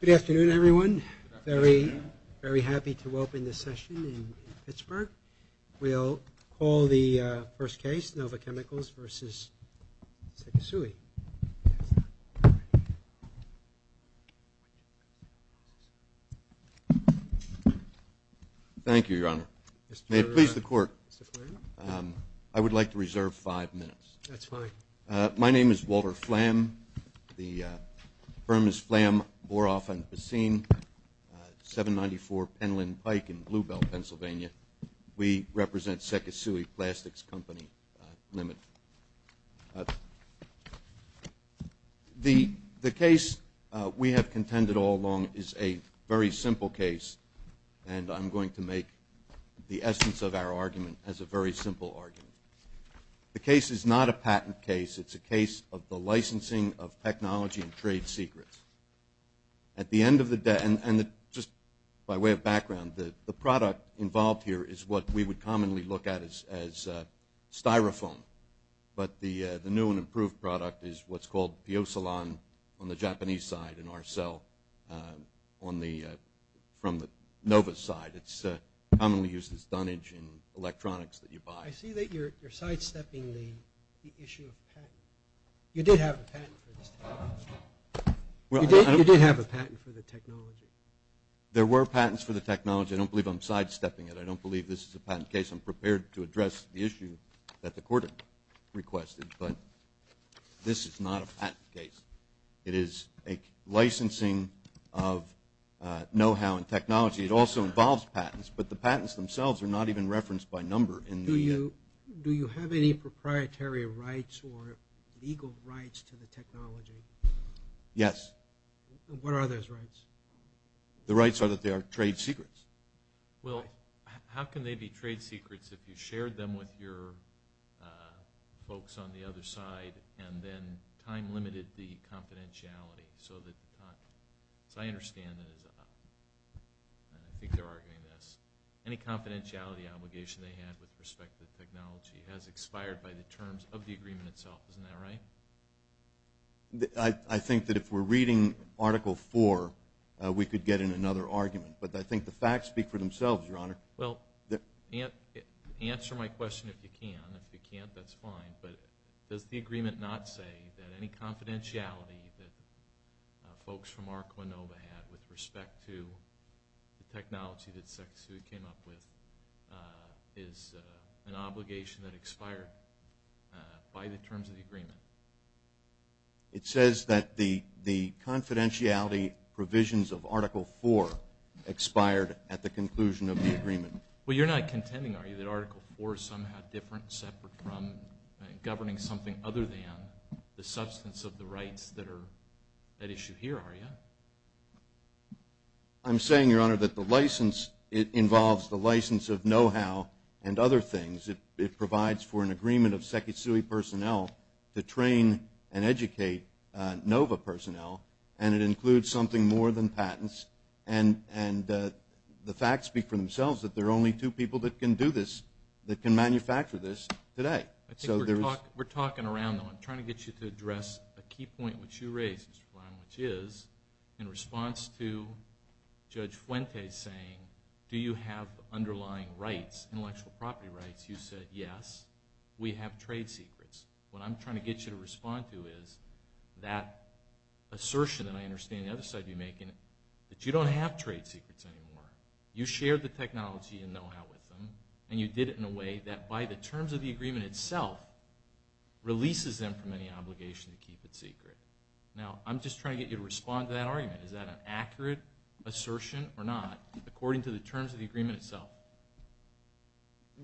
Good afternoon, everyone. Very happy to open this session in Pittsburgh. We'll call the first case, Nova Chemicals v. Sekisui. Thank you, Your Honor. May it please the Court, I would like to reserve five minutes. That's fine. My name is Walter Flam, the firm is Flam, Boroff & Pessin, 794 Penland Pike in Bluebell, Pennsylvania. We represent Sekisui Plastics Company Limited. The case we have contended all along is a very simple case, and I'm going to make the essence of our argument as a very simple argument. The case is not a patent case, it's a case of the licensing of technology and trade secrets. At the end of the day, and just by way of background, the product involved here is what we would commonly look at as Styrofoam, but the new and improved product is what's called Pyosolon on the Japanese side, and Arcel on the, from the Nova side. It's commonly used as dunnage in electronics that you buy. I see that you're sidestepping the issue of patent. You did have a patent for this technology. You did have a patent for the technology. There were patents for the technology. I don't believe I'm sidestepping it. I don't believe this is a patent case. I'm prepared to address the issue that the court requested, but this is not a patent case. It is a licensing of know-how and technology. It also involves patents, but the patents themselves are not even referenced by number. Do you have any proprietary rights or legal rights to the technology? Yes. What are those rights? The rights are that they are trade secrets. Well, how can they be trade secrets if you shared them with your folks on the other side and then time limited the confidentiality so that, as I understand it, I think they're arguing this, any confidentiality obligation they had with respect to the technology has expired by the terms of the agreement itself. Isn't that right? I think that if we're reading Article IV, we could get in another argument, but I think the facts speak for themselves, Your Honor. Well, answer my question if you can. If you can't, that's fine. But does the agreement not say that any confidentiality that folks from ARCWINOVA had with respect to the technology that Sec. Seward came up with is an obligation that expired by the terms of the agreement? It says that the confidentiality provisions of Article IV expired at the conclusion of the agreement. Well, you're not contending, are you, that Article IV is somehow different, separate from governing something other than the substance of the rights that are at issue here, are you? I'm saying, Your Honor, that the license involves the license of know-how and other things. It provides for an agreement of Sec. Seward personnel to train and educate NOVA personnel, and it includes something more than patents. And the facts speak for themselves that there are only two people that can do this, that can manufacture this today. We're talking around, though. I'm trying to get you to address a key point which you raised, Mr. Brown, in response to Judge Fuente saying, do you have underlying rights, intellectual property rights? You said, yes, we have trade secrets. What I'm trying to get you to respond to is that assertion that I understand the other side would be making, that you don't have trade secrets anymore. You shared the technology and know-how with them, and you did it in a way that, by the terms of the agreement itself, releases them from any obligation to keep it secret. Now, I'm just trying to get you to respond to that argument. Is that an accurate assertion or not, according to the terms of the agreement itself?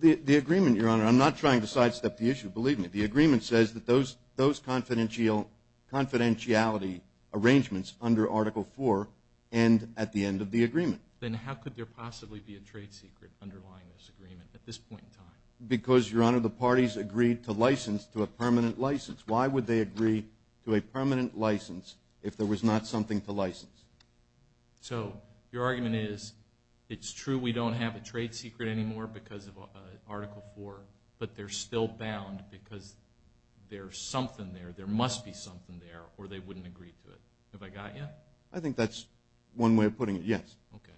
The agreement, Your Honor, I'm not trying to sidestep the issue, believe me. The agreement says that those confidentiality arrangements under Article IV end at the end of the agreement. Then how could there possibly be a trade secret underlying this agreement at this point in time? Because, Your Honor, the parties agreed to license to a permanent license. Why would they agree to a permanent license if there was not something to license? So your argument is it's true we don't have a trade secret anymore because of Article IV, but they're still bound because there's something there, there must be something there, or they wouldn't agree to it. Have I got you? I think that's one way of putting it, yes. Okay.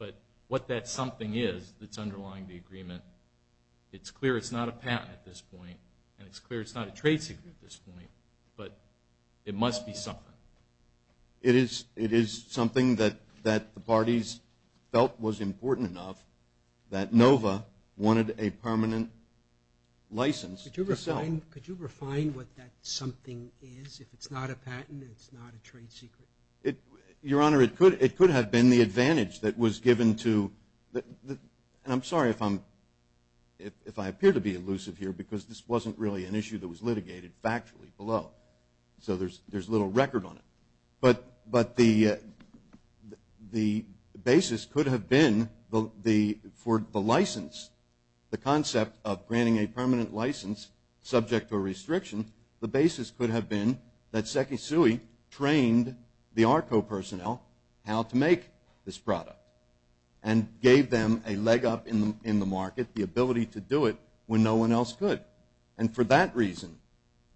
But what that something is that's underlying the agreement, it's clear it's not a patent at this point, and it's clear it's not a trade secret at this point, but it must be something. It is something that the parties felt was important enough that NOVA wanted a permanent license to sell. Could you refine what that something is? If it's not a patent, it's not a trade secret? Your Honor, it could have been the advantage that was given to, and I'm sorry if I appear to be elusive here because this wasn't really an issue that was litigated factually below, so there's little record on it. But the basis could have been for the license, the concept of granting a permanent license subject to a restriction, the basis could have been that Secchi Sui trained the ARCO personnel how to make this product and gave them a leg up in the market, the ability to do it when no one else could. And for that reason,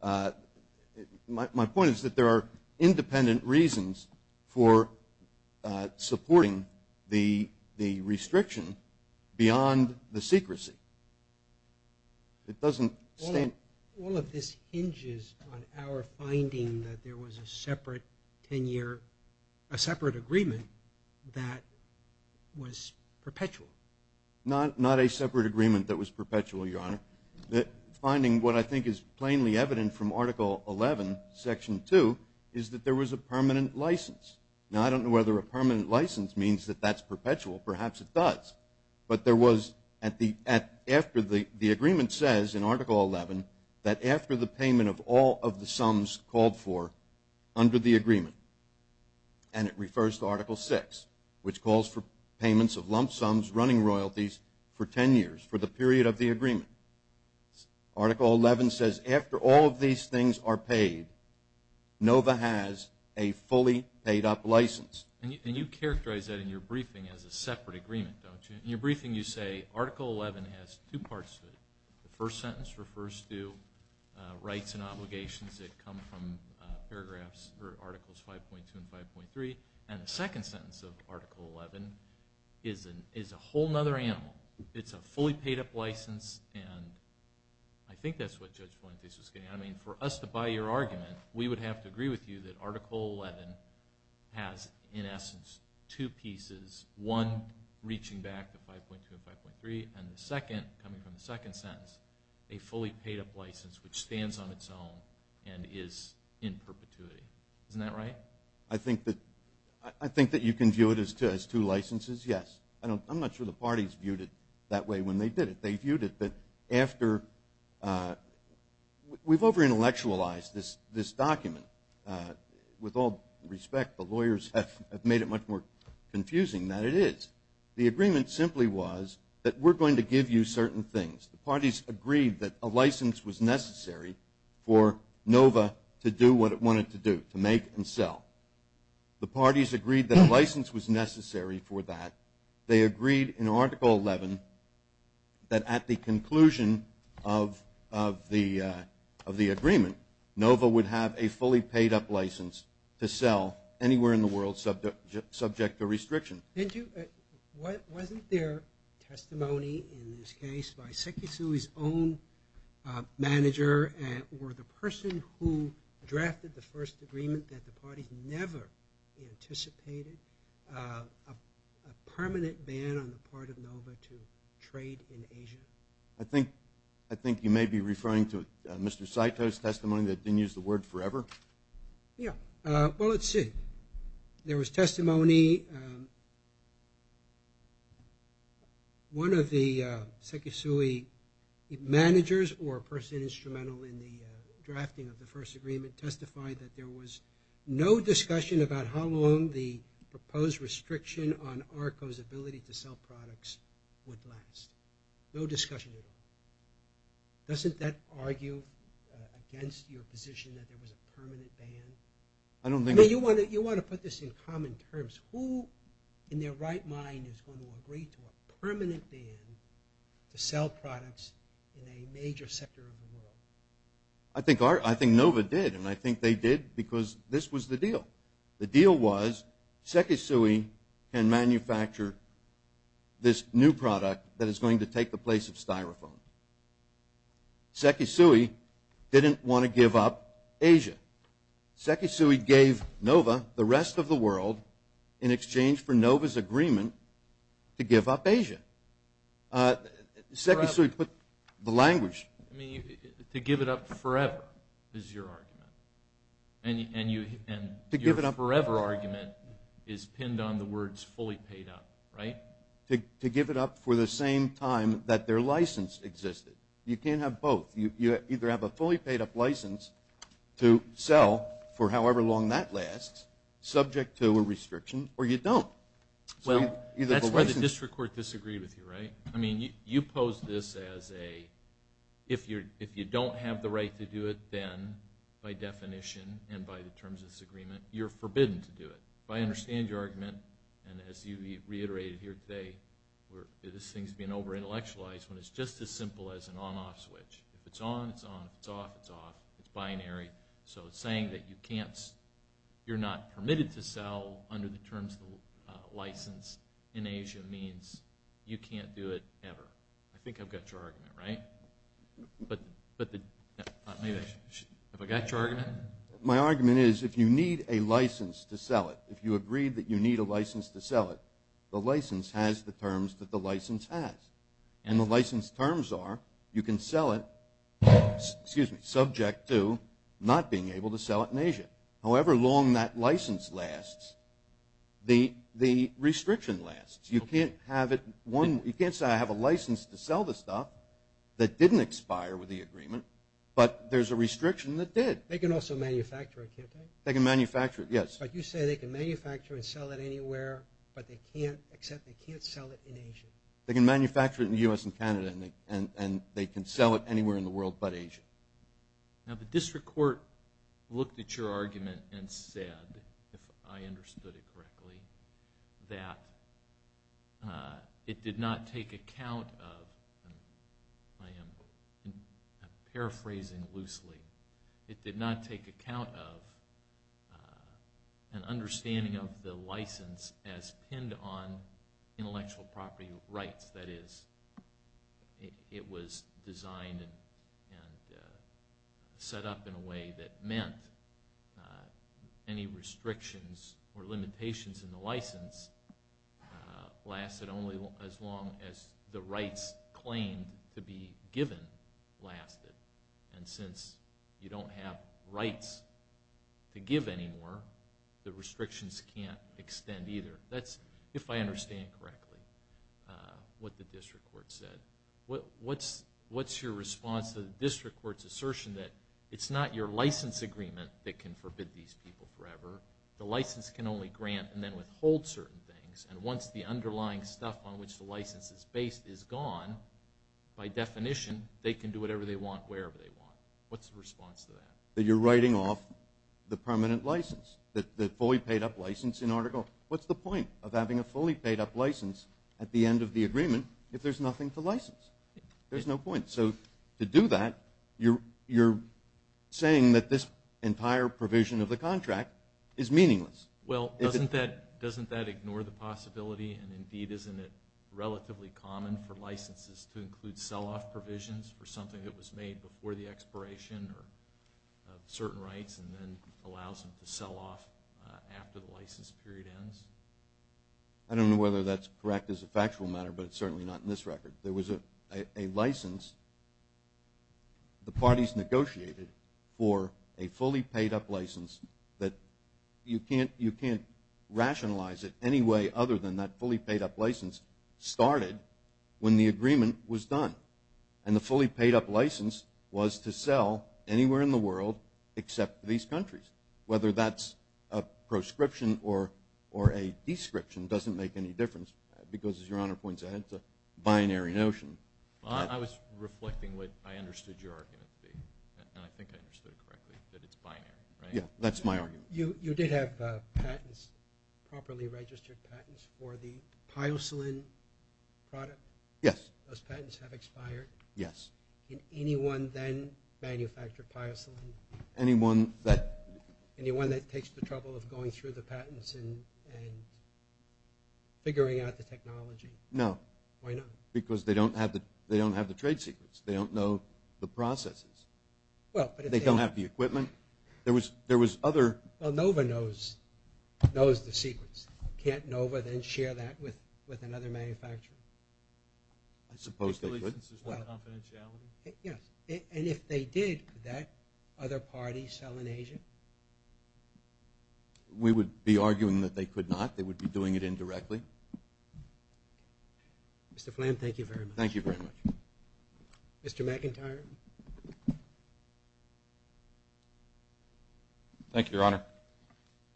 my point is that there are independent reasons for supporting the restriction beyond the secrecy. It doesn't stand... All of this hinges on our finding that there was a separate agreement that was perpetual. Not a separate agreement that was perpetual, Your Honor. The finding, what I think is plainly evident from Article 11, Section 2, is that there was a permanent license. Now, I don't know whether a permanent license means that that's perpetual. Perhaps it does. But there was, after the agreement says in Article 11, that after the payment of all of the sums called for under the agreement, and it refers to Article 6, which calls for payments of lump sums running royalties for 10 years, for the period of the agreement. Article 11 says after all of these things are paid, NOVA has a fully paid up license. And you characterize that in your briefing as a separate agreement, don't you? In your briefing, you say Article 11 has two parts to it. The first sentence refers to rights and obligations that come from articles 5.2 and 5.3, and the second sentence of Article 11 is a whole other animal. It's a fully paid up license, and I think that's what Judge Valantes was getting at. I mean, for us to buy your argument, we would have to agree with you that Article 11 has, in essence, two pieces. One, reaching back to 5.2 and 5.3, and the second, coming from the second sentence, a fully paid up license which stands on its own and is in perpetuity. Isn't that right? I think that you can view it as two licenses, yes. I'm not sure the parties viewed it that way when they did it. We've over-intellectualized this document. With all respect, the lawyers have made it much more confusing than it is. The agreement simply was that we're going to give you certain things. The parties agreed that a license was necessary for NOVA to do what it wanted to do, to make and sell. The parties agreed that a license was necessary for that. They agreed in Article 11 that at the conclusion of the agreement, NOVA would have a fully paid up license to sell anywhere in the world subject to restriction. Wasn't there testimony in this case by Sekisui's own manager or the person who drafted the first agreement that the parties never anticipated, a permanent ban on the part of NOVA to trade in Asia? I think you may be referring to Mr. Saito's testimony that didn't use the word forever. Yes. Well, let's see. There was testimony. One of the Sekisui managers or person instrumental in the drafting of the first agreement testified that there was no discussion about how long the proposed restriction on ARCO's ability to sell products would last. No discussion at all. Doesn't that argue against your position that there was a permanent ban? You want to put this in common terms. Who in their right mind is going to agree to a permanent ban to sell products in a major sector of the world? I think NOVA did, and I think they did because this was the deal. The deal was Sekisui can manufacture this new product that is going to take the place of Styrofoam. Sekisui didn't want to give up Asia. Sekisui gave NOVA the rest of the world in exchange for NOVA's agreement to give up Asia. Sekisui put the language. To give it up forever is your argument, and your forever argument is pinned on the words fully paid up, right? To give it up for the same time that their license existed. You can't have both. You either have a fully paid up license to sell for however long that lasts, subject to a restriction, or you don't. Well, that's why the district court disagreed with you, right? I mean, you posed this as a, if you don't have the right to do it, then by definition and by the terms of this agreement, you're forbidden to do it. I understand your argument, and as you reiterated here today, this thing's being over-intellectualized when it's just as simple as an on-off switch. If it's on, it's on. If it's off, it's off. It's binary. So saying that you're not permitted to sell under the terms of the license in Asia means you can't do it ever. I think I've got your argument, right? Have I got your argument? My argument is if you need a license to sell it, if you agree that you need a license to sell it, the license has the terms that the license has, and the license terms are you can sell it subject to not being able to sell it in Asia. However long that license lasts, the restriction lasts. You can't say I have a license to sell the stuff that didn't expire with the agreement, but there's a restriction that did. They can also manufacture it, can't they? They can manufacture it, yes. But you say they can manufacture and sell it anywhere, but they can't sell it in Asia. They can manufacture it in the U.S. and Canada, and they can sell it anywhere in the world but Asia. Now the district court looked at your argument and said, if I understood it correctly, that it did not take account of, and I am paraphrasing loosely, it did not take account of an understanding of the license as pinned on intellectual property rights. That is, it was designed and set up in a way that meant any restrictions or limitations in the license lasted only as long as the rights claimed to be given lasted. And since you don't have rights to give anymore, the restrictions can't extend either. That's, if I understand correctly, what the district court said. What's your response to the district court's assertion that it's not your license agreement that can forbid these people forever? The license can only grant and then withhold certain things, and once the underlying stuff on which the license is based is gone, by definition they can do whatever they want wherever they want. What's the response to that? That you're writing off the permanent license, the fully paid-up license in order to go. What's the point of having a fully paid-up license at the end of the agreement if there's nothing to license? There's no point. So to do that, you're saying that this entire provision of the contract is meaningless. Well, doesn't that ignore the possibility, and indeed isn't it relatively common for licenses to include sell-off provisions for something that was made before the expiration of certain rights and then allows them to sell off after the license period ends? I don't know whether that's correct as a factual matter, but it's certainly not in this record. There was a license the parties negotiated for a fully paid-up license that you can't rationalize it any way other than that fully paid-up license started when the agreement was done, and the fully paid-up license was to sell anywhere in the world except to these countries. Whether that's a proscription or a description doesn't make any difference because, as Your Honor points out, it's a binary notion. I was reflecting what I understood your argument to be, and I think I understood it correctly, that it's binary, right? Yeah, that's my argument. You did have patents, properly registered patents, for the Pyoslin product? Yes. Those patents have expired? Yes. Can anyone then manufacture Pyoslin? Anyone that... Anyone that takes the trouble of going through the patents and figuring out the technology? No. Why not? Because they don't have the trade secrets. They don't know the processes. They don't have the equipment. There was other... Well, NOVA knows the secrets. Can't NOVA then share that with another manufacturer? I suppose they wouldn't. Licenses without confidentiality? Yes. And if they did, could that other party sell in Asia? We would be arguing that they could not. They would be doing it indirectly. Mr. Flan, thank you very much. Thank you very much. Mr. McIntyre? Thank you, Your Honor.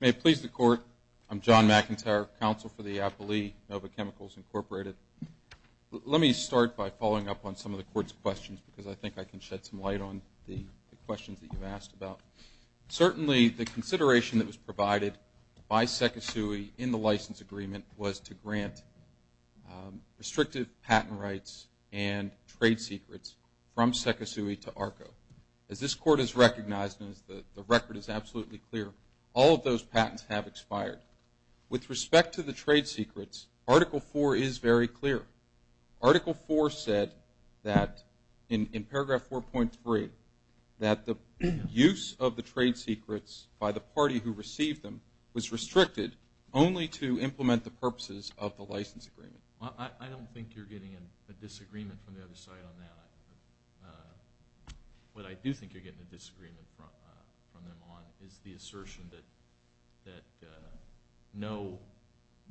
May it please the Court, I'm John McIntyre, Counsel for the Appley NOVA Chemicals, Incorporated. Let me start by following up on some of the Court's questions because I think I can shed some light on the questions that you asked about. Certainly, the consideration that was provided by Sekisui in the license agreement was to grant restrictive patent rights and trade secrets from Sekisui to ARCO. As this Court has recognized, and the record is absolutely clear, all of those patents have expired. With respect to the trade secrets, Article 4 is very clear. Article 4 said that, in paragraph 4.3, that the use of the trade secrets by the party who received them was restricted only to implement the purposes of the license agreement. I don't think you're getting a disagreement from the other side on that. What I do think you're getting a disagreement from them on is the assertion that no,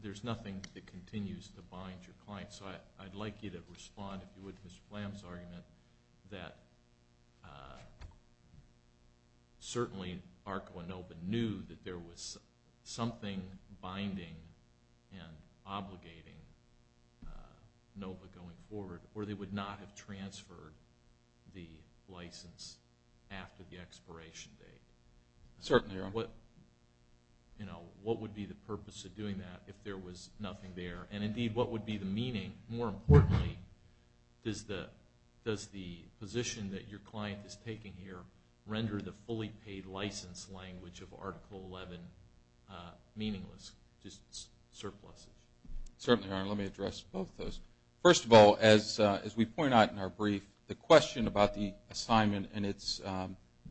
there's nothing that continues to bind your client. So I'd like you to respond, if you would, to Mr. Flan's argument that certainly ARCO and NOVA knew that there was something binding and obligating NOVA going forward, or they would not have transferred the license after the expiration date. Certainly, Your Honor. What would be the purpose of doing that if there was nothing there? And indeed, what would be the meaning? And more importantly, does the position that your client is taking here render the fully paid license language of Article 11 meaningless, just surpluses? Certainly, Your Honor. Let me address both of those. First of all, as we point out in our brief, the question about the assignment and its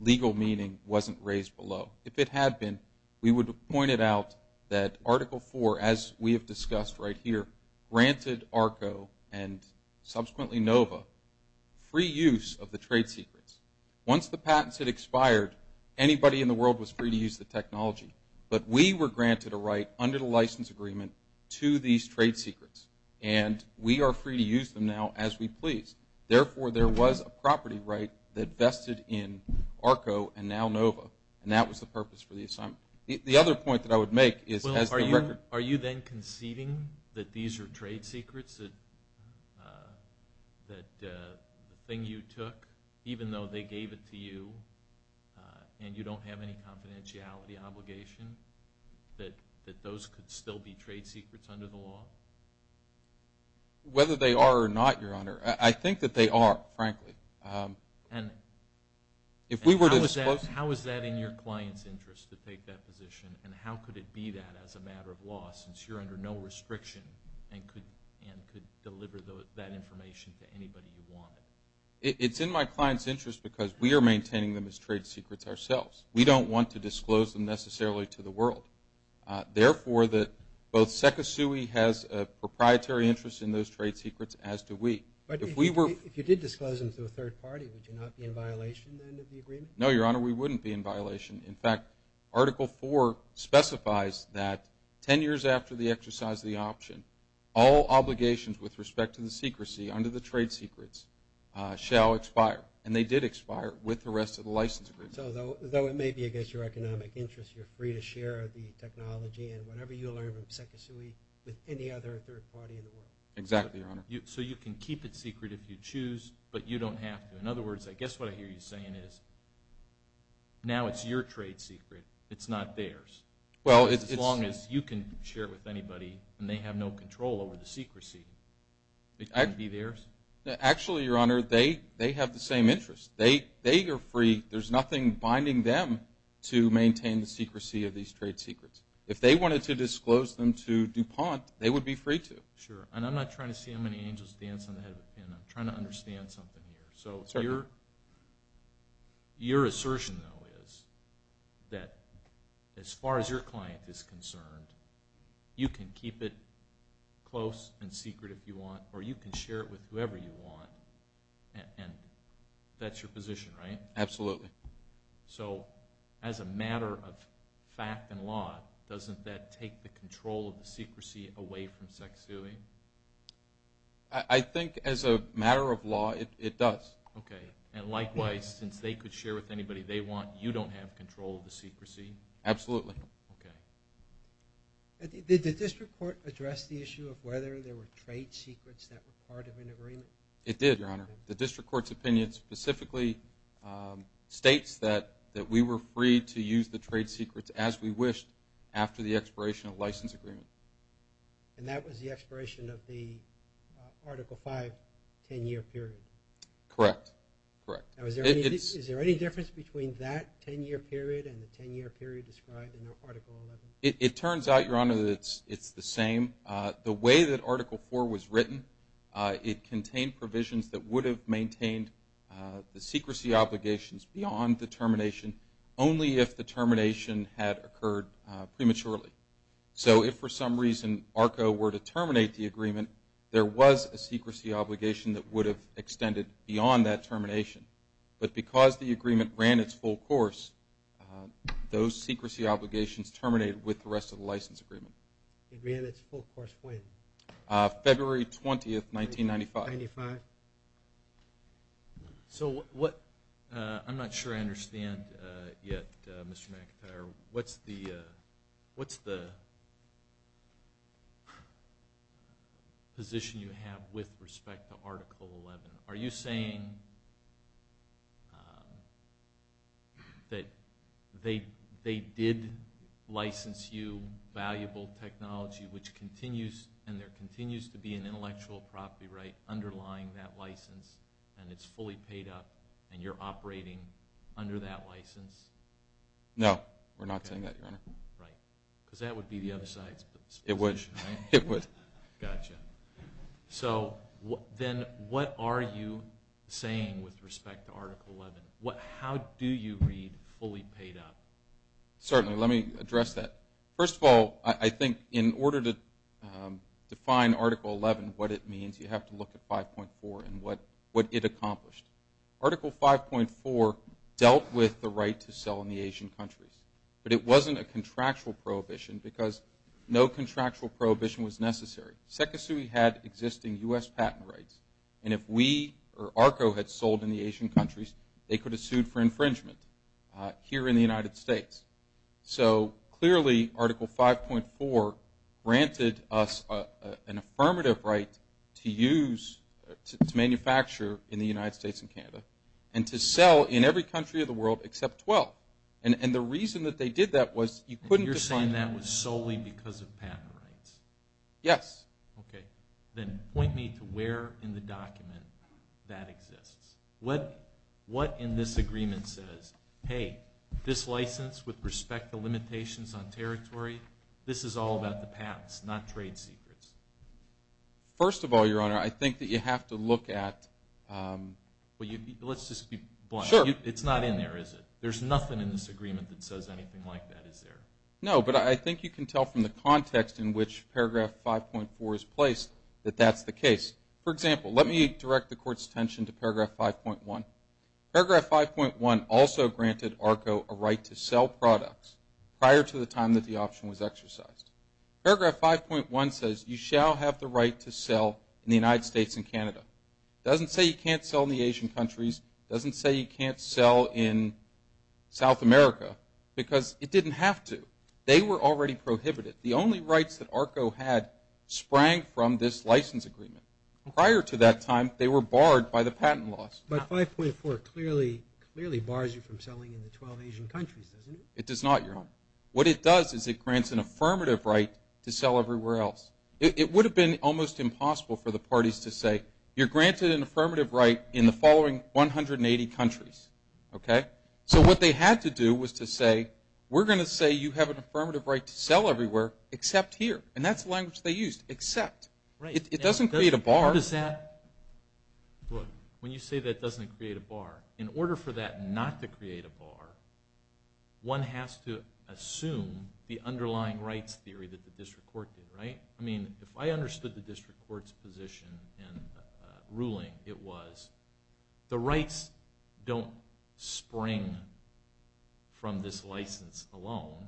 legal meaning wasn't raised below. If it had been, we would have pointed out that Article 4, as we have discussed right here, granted ARCO and subsequently NOVA free use of the trade secrets. Once the patents had expired, anybody in the world was free to use the technology. But we were granted a right under the license agreement to these trade secrets, and we are free to use them now as we please. Therefore, there was a property right that vested in ARCO and now NOVA, and that was the purpose for the assignment. The other point that I would make is as the record. Are you then conceiving that these are trade secrets, that the thing you took, even though they gave it to you and you don't have any confidentiality obligation, that those could still be trade secrets under the law? Whether they are or not, Your Honor, I think that they are, frankly. And how is that in your client's interest to take that position, and how could it be that as a matter of law, since you're under no restriction and could deliver that information to anybody you wanted? It's in my client's interest because we are maintaining them as trade secrets ourselves. We don't want to disclose them necessarily to the world. Therefore, both SECISUI has a proprietary interest in those trade secrets, as do we. But if you did disclose them to a third party, would you not be in violation then of the agreement? No, Your Honor, we wouldn't be in violation. In fact, Article 4 specifies that 10 years after the exercise of the option, all obligations with respect to the secrecy under the trade secrets shall expire. And they did expire with the rest of the license agreement. So though it may be against your economic interest, you're free to share the technology and whatever you learn from SECISUI with any other third party in the world. Exactly, Your Honor. So you can keep it secret if you choose, but you don't have to. In other words, I guess what I hear you saying is now it's your trade secret. It's not theirs as long as you can share it with anybody and they have no control over the secrecy. It can't be theirs? Actually, Your Honor, they have the same interest. They are free. There's nothing binding them to maintain the secrecy of these trade secrets. If they wanted to disclose them to DuPont, they would be free to. Sure. And I'm not trying to see how many angels dance on the head of a pin. I'm trying to understand something here. So your assertion, though, is that as far as your client is concerned, you can keep it close and secret if you want, or you can share it with whoever you want. And that's your position, right? Absolutely. So as a matter of fact and law, doesn't that take the control of the secrecy away from sex suing? I think as a matter of law it does. Okay. And likewise, since they could share with anybody they want, you don't have control of the secrecy? Absolutely. Okay. Did the district court address the issue of whether there were trade secrets that were part of an agreement? It did, Your Honor. The district court's opinion specifically states that we were free to use the trade secrets as we wished after the expiration of the license agreement. And that was the expiration of the Article V 10-year period? Correct. Is there any difference between that 10-year period and the 10-year period described in Article XI? It turns out, Your Honor, that it's the same. The way that Article IV was written, it contained provisions that would have maintained the secrecy obligations beyond the termination only if the termination had occurred prematurely. So if for some reason ARCO were to terminate the agreement, there was a secrecy obligation that would have extended beyond that termination. But because the agreement ran its full course, those secrecy obligations terminated with the rest of the license agreement. It ran its full course when? February 20, 1995. So what I'm not sure I understand yet, Mr. McIntyre, what's the position you have with respect to Article XI? Are you saying that they did license you valuable technology and there continues to be an intellectual property right underlying that license and it's fully paid up and you're operating under that license? No, we're not saying that, Your Honor. Because that would be the other side's position. It would. Gotcha. So then what are you saying with respect to Article XI? How do you read fully paid up? Certainly. Let me address that. First of all, I think in order to define Article XI, what it means, you have to look at 5.4 and what it accomplished. Article 5.4 dealt with the right to sell in the Asian countries. But it wasn't a contractual prohibition because no contractual prohibition was necessary. Secosui had existing U.S. patent rights. And if we or ARCO had sold in the Asian countries, they could have sued for infringement here in the United States. So clearly Article 5.4 granted us an affirmative right to use, to manufacture in the United States and Canada and to sell in every country of the world except 12. And the reason that they did that was you couldn't define that. You're saying that was solely because of patent rights? Yes. Okay. Then point me to where in the document that exists. What in this agreement says, hey, this license with respect to limitations on territory, this is all about the patents, not trade secrets? First of all, Your Honor, I think that you have to look at – Let's just be blunt. Sure. It's not in there, is it? There's nothing in this agreement that says anything like that, is there? No, but I think you can tell from the context in which Paragraph 5.4 is placed that that's the case. For example, let me direct the Court's attention to Paragraph 5.1. Paragraph 5.1 also granted ARCO a right to sell products prior to the time that the option was exercised. Paragraph 5.1 says you shall have the right to sell in the United States and Canada. It doesn't say you can't sell in the Asian countries. It doesn't say you can't sell in South America because it didn't have to. They were already prohibited. The only rights that ARCO had sprang from this license agreement. Prior to that time, they were barred by the patent laws. But 5.4 clearly bars you from selling in the 12 Asian countries, doesn't it? It does not, Your Honor. What it does is it grants an affirmative right to sell everywhere else. It would have been almost impossible for the parties to say, you're granted an affirmative right in the following 180 countries. So what they had to do was to say, we're going to say you have an affirmative right to sell everywhere except here. And that's the language they used, except. It doesn't create a bar. When you say that doesn't create a bar, in order for that not to create a bar, one has to assume the underlying rights theory that the District Court did. If I understood the District Court's position and ruling, it was the rights don't spring from this license alone.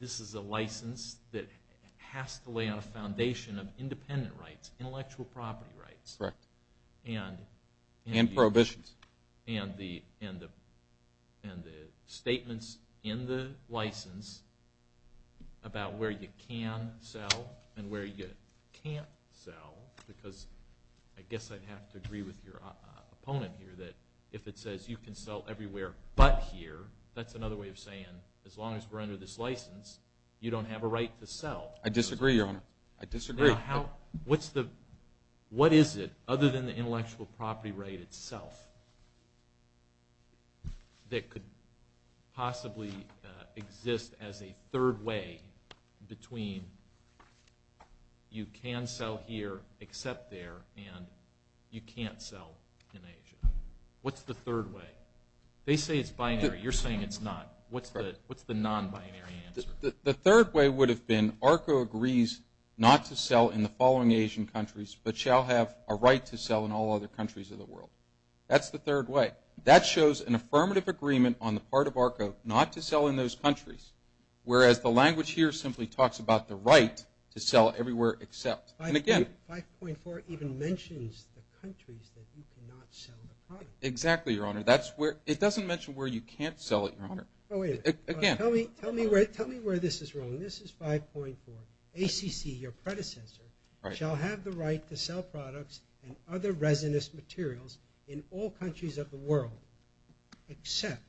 This is a license that has to lay on a foundation of independent rights, intellectual property rights. Correct. And prohibitions. And the statements in the license about where you can sell and where you can't sell, because I guess I'd have to agree with your opponent here, that if it says you can sell everywhere but here, that's another way of saying as long as we're under this license, you don't have a right to sell. I disagree, Your Honor. I disagree. What is it, other than the intellectual property right itself, that could possibly exist as a third way between you can sell here except there and you can't sell in Asia? What's the third way? They say it's binary. You're saying it's not. What's the non-binary answer? The third way would have been ARCO agrees not to sell in the following Asian countries but shall have a right to sell in all other countries of the world. That's the third way. That shows an affirmative agreement on the part of ARCO not to sell in those countries, whereas the language here simply talks about the right to sell everywhere except. 5.4 even mentions the countries that you cannot sell the product. Exactly, Your Honor. It doesn't mention where you can't sell it, Your Honor. Tell me where this is wrong. This is 5.4. ACC, your predecessor, shall have the right to sell products and other resinous materials in all countries of the world except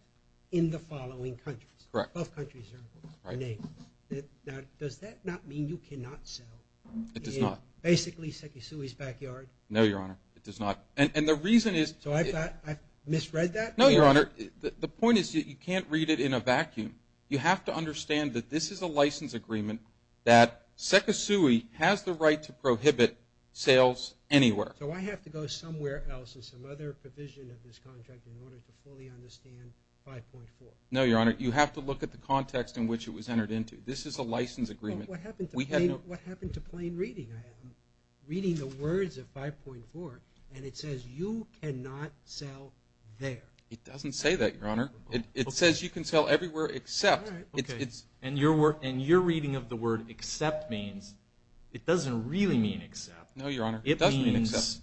in the following countries. Correct. Both countries are named. Now, does that not mean you cannot sell? It does not. Basically Sekisui's Backyard? No, Your Honor. It does not. And the reason is. So I've misread that? No, Your Honor. The point is that you can't read it in a vacuum. You have to understand that this is a license agreement that Sekisui has the right to prohibit sales anywhere. So I have to go somewhere else in some other provision of this contract in order to fully understand 5.4? No, Your Honor. You have to look at the context in which it was entered into. This is a license agreement. What happened to plain reading? I'm reading the words of 5.4, and it says you cannot sell there. It doesn't say that, Your Honor. It says you can sell everywhere except. And your reading of the word except means it doesn't really mean except. No, Your Honor. It means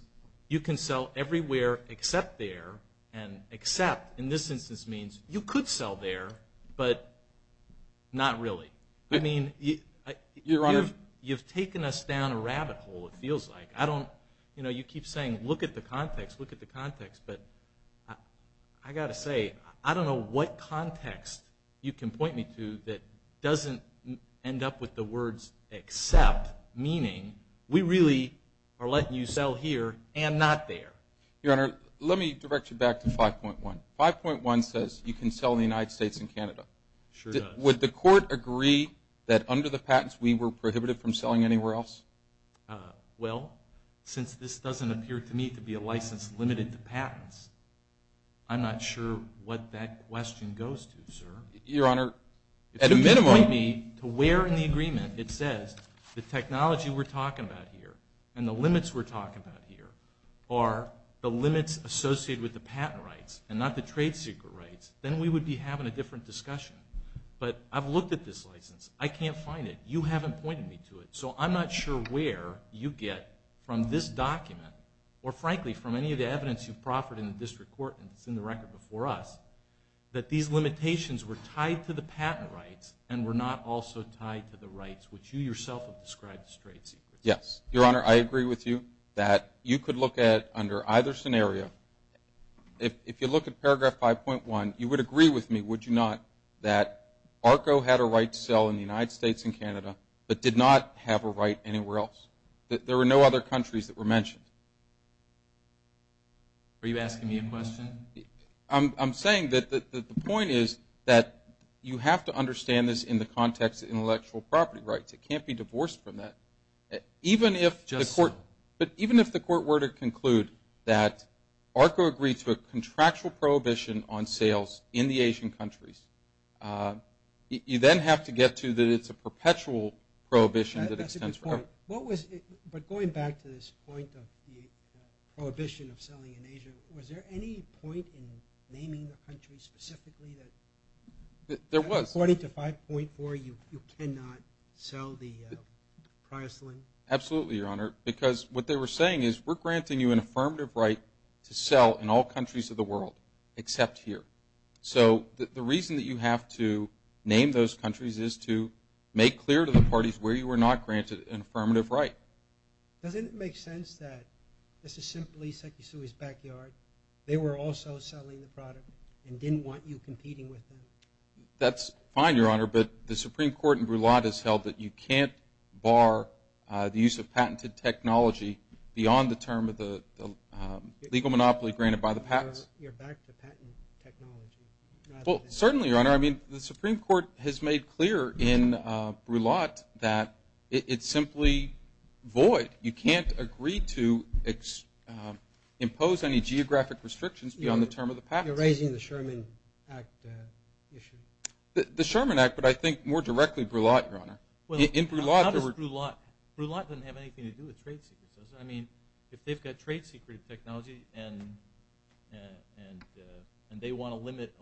you can sell everywhere except there, and except in this instance means you could sell there, but not really. I mean, you've taken us down a rabbit hole it feels like. You keep saying look at the context, look at the context, but I've got to say I don't know what context you can point me to that doesn't end up with the words except, meaning we really are letting you sell here and not there. Your Honor, let me direct you back to 5.1. 5.1 says you can sell in the United States and Canada. It sure does. Would the court agree that under the patents we were prohibited from selling anywhere else? Well, since this doesn't appear to me to be a license limited to patents, I'm not sure what that question goes to, sir. Your Honor, at a minimum. To where in the agreement it says the technology we're talking about here and the limits we're talking about here are the limits associated with the patent rights and not the trade secret rights, then we would be having a different discussion. But I've looked at this license. I can't find it. You haven't pointed me to it. So I'm not sure where you get from this document or frankly from any of the evidence you've proffered in the district court and it's in the record before us, that these limitations were tied to the patent rights and were not also tied to the rights which you yourself have described as trade secrets. Yes. Your Honor, I agree with you that you could look at under either scenario. If you look at paragraph 5.1, you would agree with me, would you not, that ARCO had a right to sell in the United States and Canada but did not have a right anywhere else. There were no other countries that were mentioned. Are you asking me a question? I'm saying that the point is that you have to understand this in the context of intellectual property rights. It can't be divorced from that. Even if the court were to conclude that ARCO agreed to a contractual prohibition on sales in the Asian countries, you then have to get to that it's a perpetual prohibition that extends forever. That's a good point. But going back to this point of the prohibition of selling in Asia, was there any point in naming a country specifically that according to 5.4 you cannot sell the price line? Absolutely, Your Honor, because what they were saying is we're granting you an affirmative right to sell in all countries of the world except here. So the reason that you have to name those countries is to make clear to the parties where you were not granted an affirmative right. Doesn't it make sense that this is simply Sekisui's backyard? They were also selling the product and didn't want you competing with them. That's fine, Your Honor, but the Supreme Court in Brulotte has held that you can't bar the use of patented technology beyond the term of the legal monopoly granted by the patents. You're back to patent technology. Well, certainly, Your Honor. I mean the Supreme Court has made clear in Brulotte that it's simply void. You can't agree to impose any geographic restrictions beyond the term of the patent. You're raising the Sherman Act issue. The Sherman Act, but I think more directly Brulotte, Your Honor. Well, how does Brulotte? I mean if they've got trade secret technology and they want to limit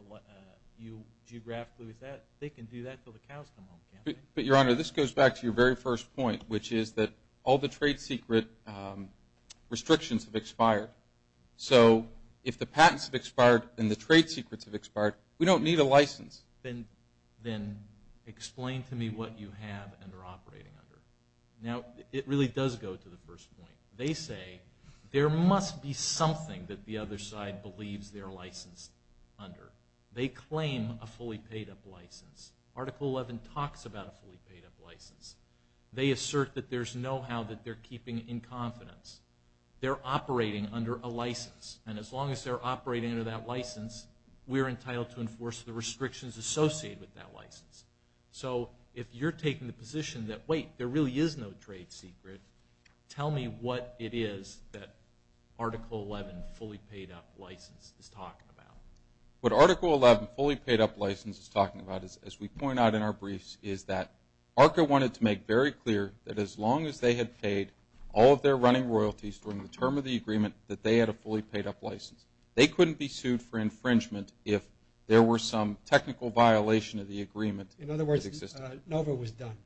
you geographically with that, they can do that until the cows come home, can't they? But, Your Honor, this goes back to your very first point, which is that all the trade secret restrictions have expired. So if the patents have expired and the trade secrets have expired, we don't need a license. Then explain to me what you have and are operating under. Now, it really does go to the first point. They say there must be something that the other side believes they're licensed under. They claim a fully paid-up license. Article 11 talks about a fully paid-up license. They assert that there's know-how that they're keeping in confidence. They're operating under a license, and as long as they're operating under that license, we're entitled to enforce the restrictions associated with that license. So if you're taking the position that, wait, there really is no trade secret, tell me what it is that Article 11 fully paid-up license is talking about. What Article 11 fully paid-up license is talking about, as we point out in our briefs, is that ARCA wanted to make very clear that as long as they had paid all of their running royalties during the term of the agreement that they had a fully paid-up license. They couldn't be sued for infringement if there were some technical violation of the agreement that existed. In other words, NOVA was done.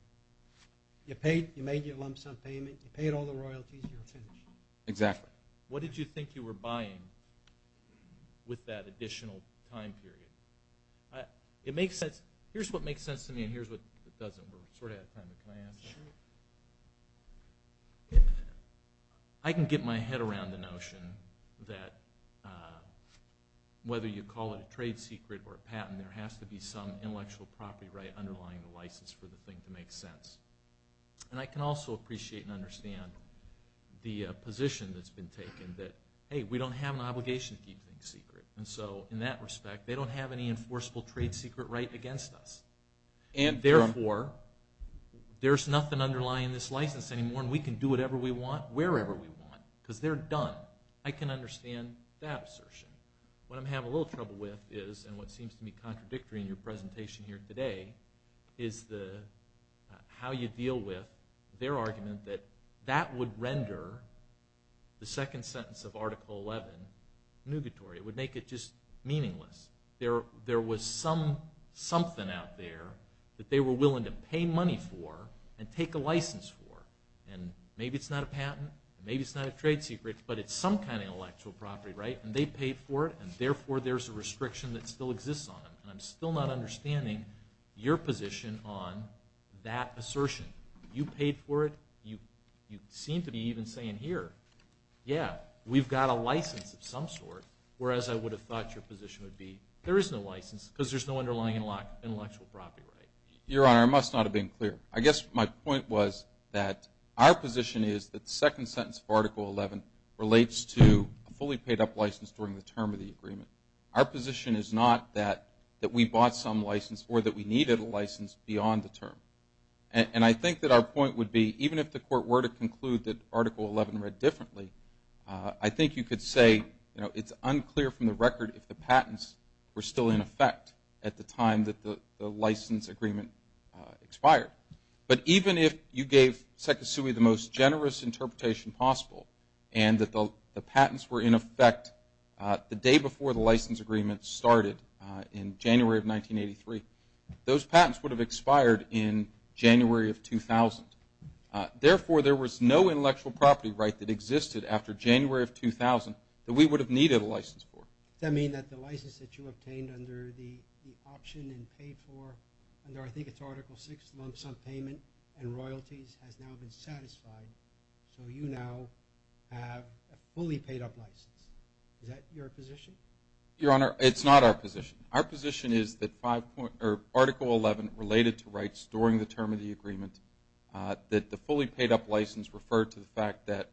You made your lump sum payment. You paid all the royalties. You were finished. Exactly. What did you think you were buying with that additional time period? It makes sense. Here's what makes sense to me, and here's what doesn't. We're sort of out of time, but can I ask that? Sure. I can get my head around the notion that whether you call it a trade secret or a patent, there has to be some intellectual property right underlying the license for the thing to make sense. And I can also appreciate and understand the position that's been taken that, hey, we don't have an obligation to keep things secret. And so in that respect, they don't have any enforceable trade secret right against us. And therefore, there's nothing underlying this license anymore, and we can do whatever we want wherever we want because they're done. I can understand that assertion. What I'm having a little trouble with is, and what seems to be contradictory in your presentation here today, is how you deal with their argument that that would render the second sentence of Article 11 nugatory. It would make it just meaningless. There was something out there that they were willing to pay money for and take a license for, and maybe it's not a patent, maybe it's not a trade secret, but it's some kind of intellectual property, right? And they paid for it, and therefore, there's a restriction that still exists on them. And I'm still not understanding your position on that assertion. You paid for it. You seem to be even saying here, yeah, we've got a license of some sort, whereas I would have thought your position would be there is no license because there's no underlying intellectual property, right? Your Honor, I must not have been clear. I guess my point was that our position is that the second sentence of Article 11 relates to a fully paid-up license during the term of the agreement. Our position is not that we bought some license or that we needed a license beyond the term. And I think that our point would be, even if the Court were to conclude that Article 11 read differently, I think you could say it's unclear from the record if the patents were still in effect at the time that the license agreement expired. But even if you gave Sekesui the most generous interpretation possible and that the patents were in effect the day before the license agreement started in January of 1983, those patents would have expired in January of 2000. Therefore, there was no intellectual property right that existed after January of 2000 that we would have needed a license for. Does that mean that the license that you obtained under the option and paid for under, I think it's Article 6, lump sum payment and royalties has now been satisfied, so you now have a fully paid-up license? Is that your position? Your Honor, it's not our position. Our position is that Article 11 related to rights during the term of the agreement, that the fully paid-up license referred to the fact that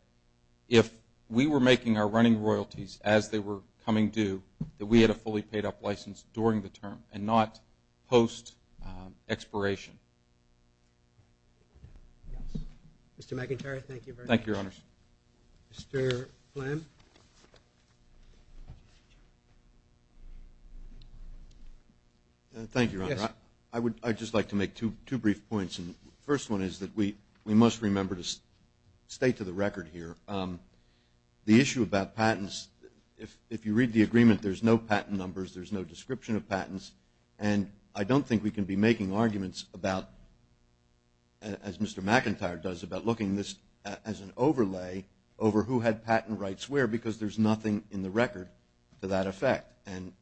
if we were making our running royalties as they were coming due, that we had a fully paid-up license during the term and not post expiration. Mr. McIntyre, thank you very much. Thank you, Your Honors. Mr. Flynn. Thank you, Your Honor. I would just like to make two brief points. The first one is that we must remember to stay to the record here. The issue about patents, if you read the agreement, there's no patent numbers, there's no description of patents, and I don't think we can be making arguments about, as Mr. McIntyre does, about looking at this as an overlay over who had patent rights where because there's nothing in the record to that effect,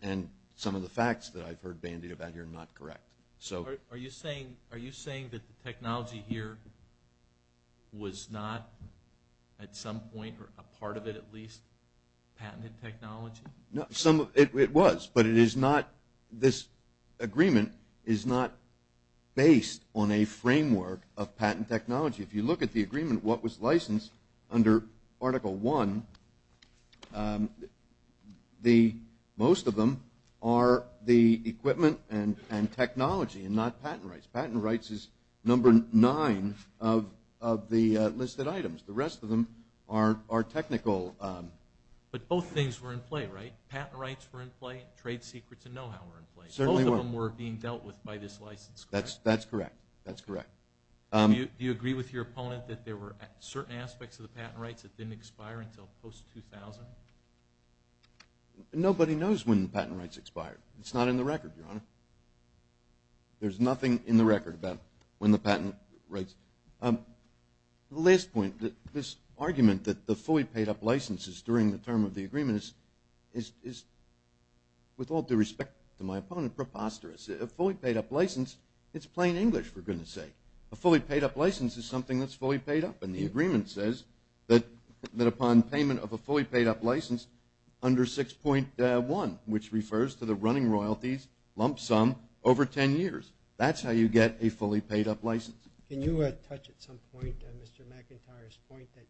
and some of the facts that I've heard bandied about here are not correct. Are you saying that the technology here was not at some point or a part of it at least patented technology? It was, but this agreement is not based on a framework of patent technology. If you look at the agreement, what was licensed under Article I, most of them are the equipment and technology and not patent rights. Patent rights is number nine of the listed items. The rest of them are technical. But both things were in play, right? Patent rights were in play, trade secrets and know-how were in play. Both of them were being dealt with by this license. That's correct. Do you agree with your opponent that there were certain aspects of the patent rights that didn't expire until post-2000? Nobody knows when the patent rights expired. It's not in the record, Your Honor. There's nothing in the record about when the patent rights. The last point, this argument that the fully paid-up license is during the term of the agreement is, with all due respect to my opponent, preposterous. A fully paid-up license, it's plain English for goodness sake. A fully paid-up license is something that's fully paid up, and the agreement says that upon payment of a fully paid-up license under 6.1, which refers to the running royalties lump sum over ten years, that's how you get a fully paid-up license. Can you touch at some point on Mr. McIntyre's point that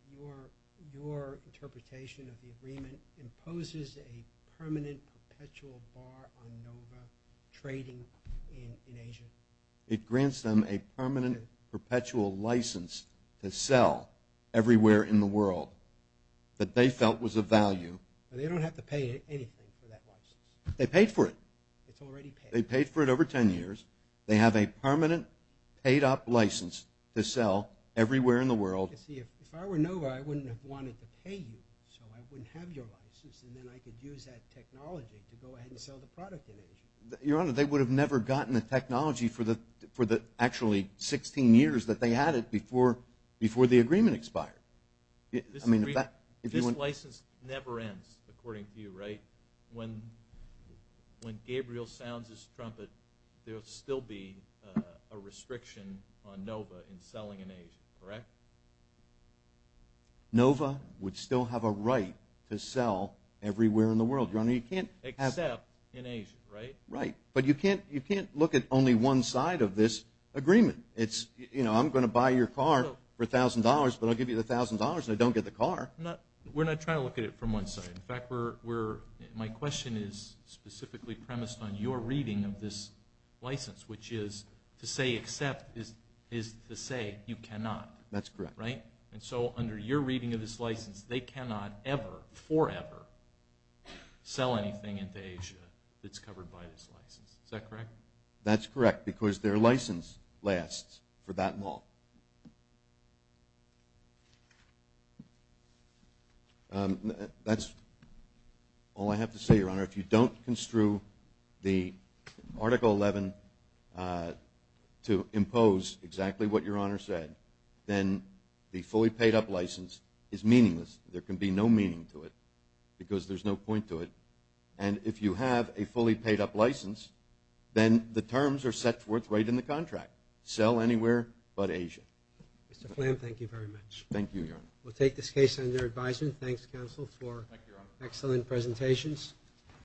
your interpretation of the agreement imposes a permanent perpetual bar on NOVA trading in Asia? It grants them a permanent perpetual license to sell everywhere in the world that they felt was of value. They don't have to pay anything for that license. They paid for it. It's already paid. They paid for it over ten years. They have a permanent paid-up license to sell everywhere in the world. If I were NOVA, I wouldn't have wanted to pay you, so I wouldn't have your license, and then I could use that technology to go ahead and sell the product in Asia. Your Honor, they would have never gotten the technology for the actually 16 years that they had it before the agreement expired. This license never ends, according to you, right? When Gabriel sounds his trumpet, there will still be a restriction on NOVA in selling in Asia, correct? NOVA would still have a right to sell everywhere in the world, Your Honor. Except in Asia, right? Right. But you can't look at only one side of this agreement. It's, you know, I'm going to buy your car for $1,000, but I'll give you the $1,000 and I don't get the car. We're not trying to look at it from one side. In fact, my question is specifically premised on your reading of this license, which is to say except is to say you cannot. That's correct. Right? And so under your reading of this license, they cannot ever, forever, sell anything into Asia that's covered by this license. Is that correct? That's correct, because their license lasts for that long. That's all I have to say, Your Honor. If you don't construe the Article 11 to impose exactly what Your Honor said, then the fully paid-up license is meaningless. There can be no meaning to it because there's no point to it. And if you have a fully paid-up license, then the terms are set forth right in the contract. You cannot sell anywhere but Asia. Mr. Flam, thank you very much. Thank you, Your Honor. We'll take this case under advisement. Thanks, counsel, for excellent presentations.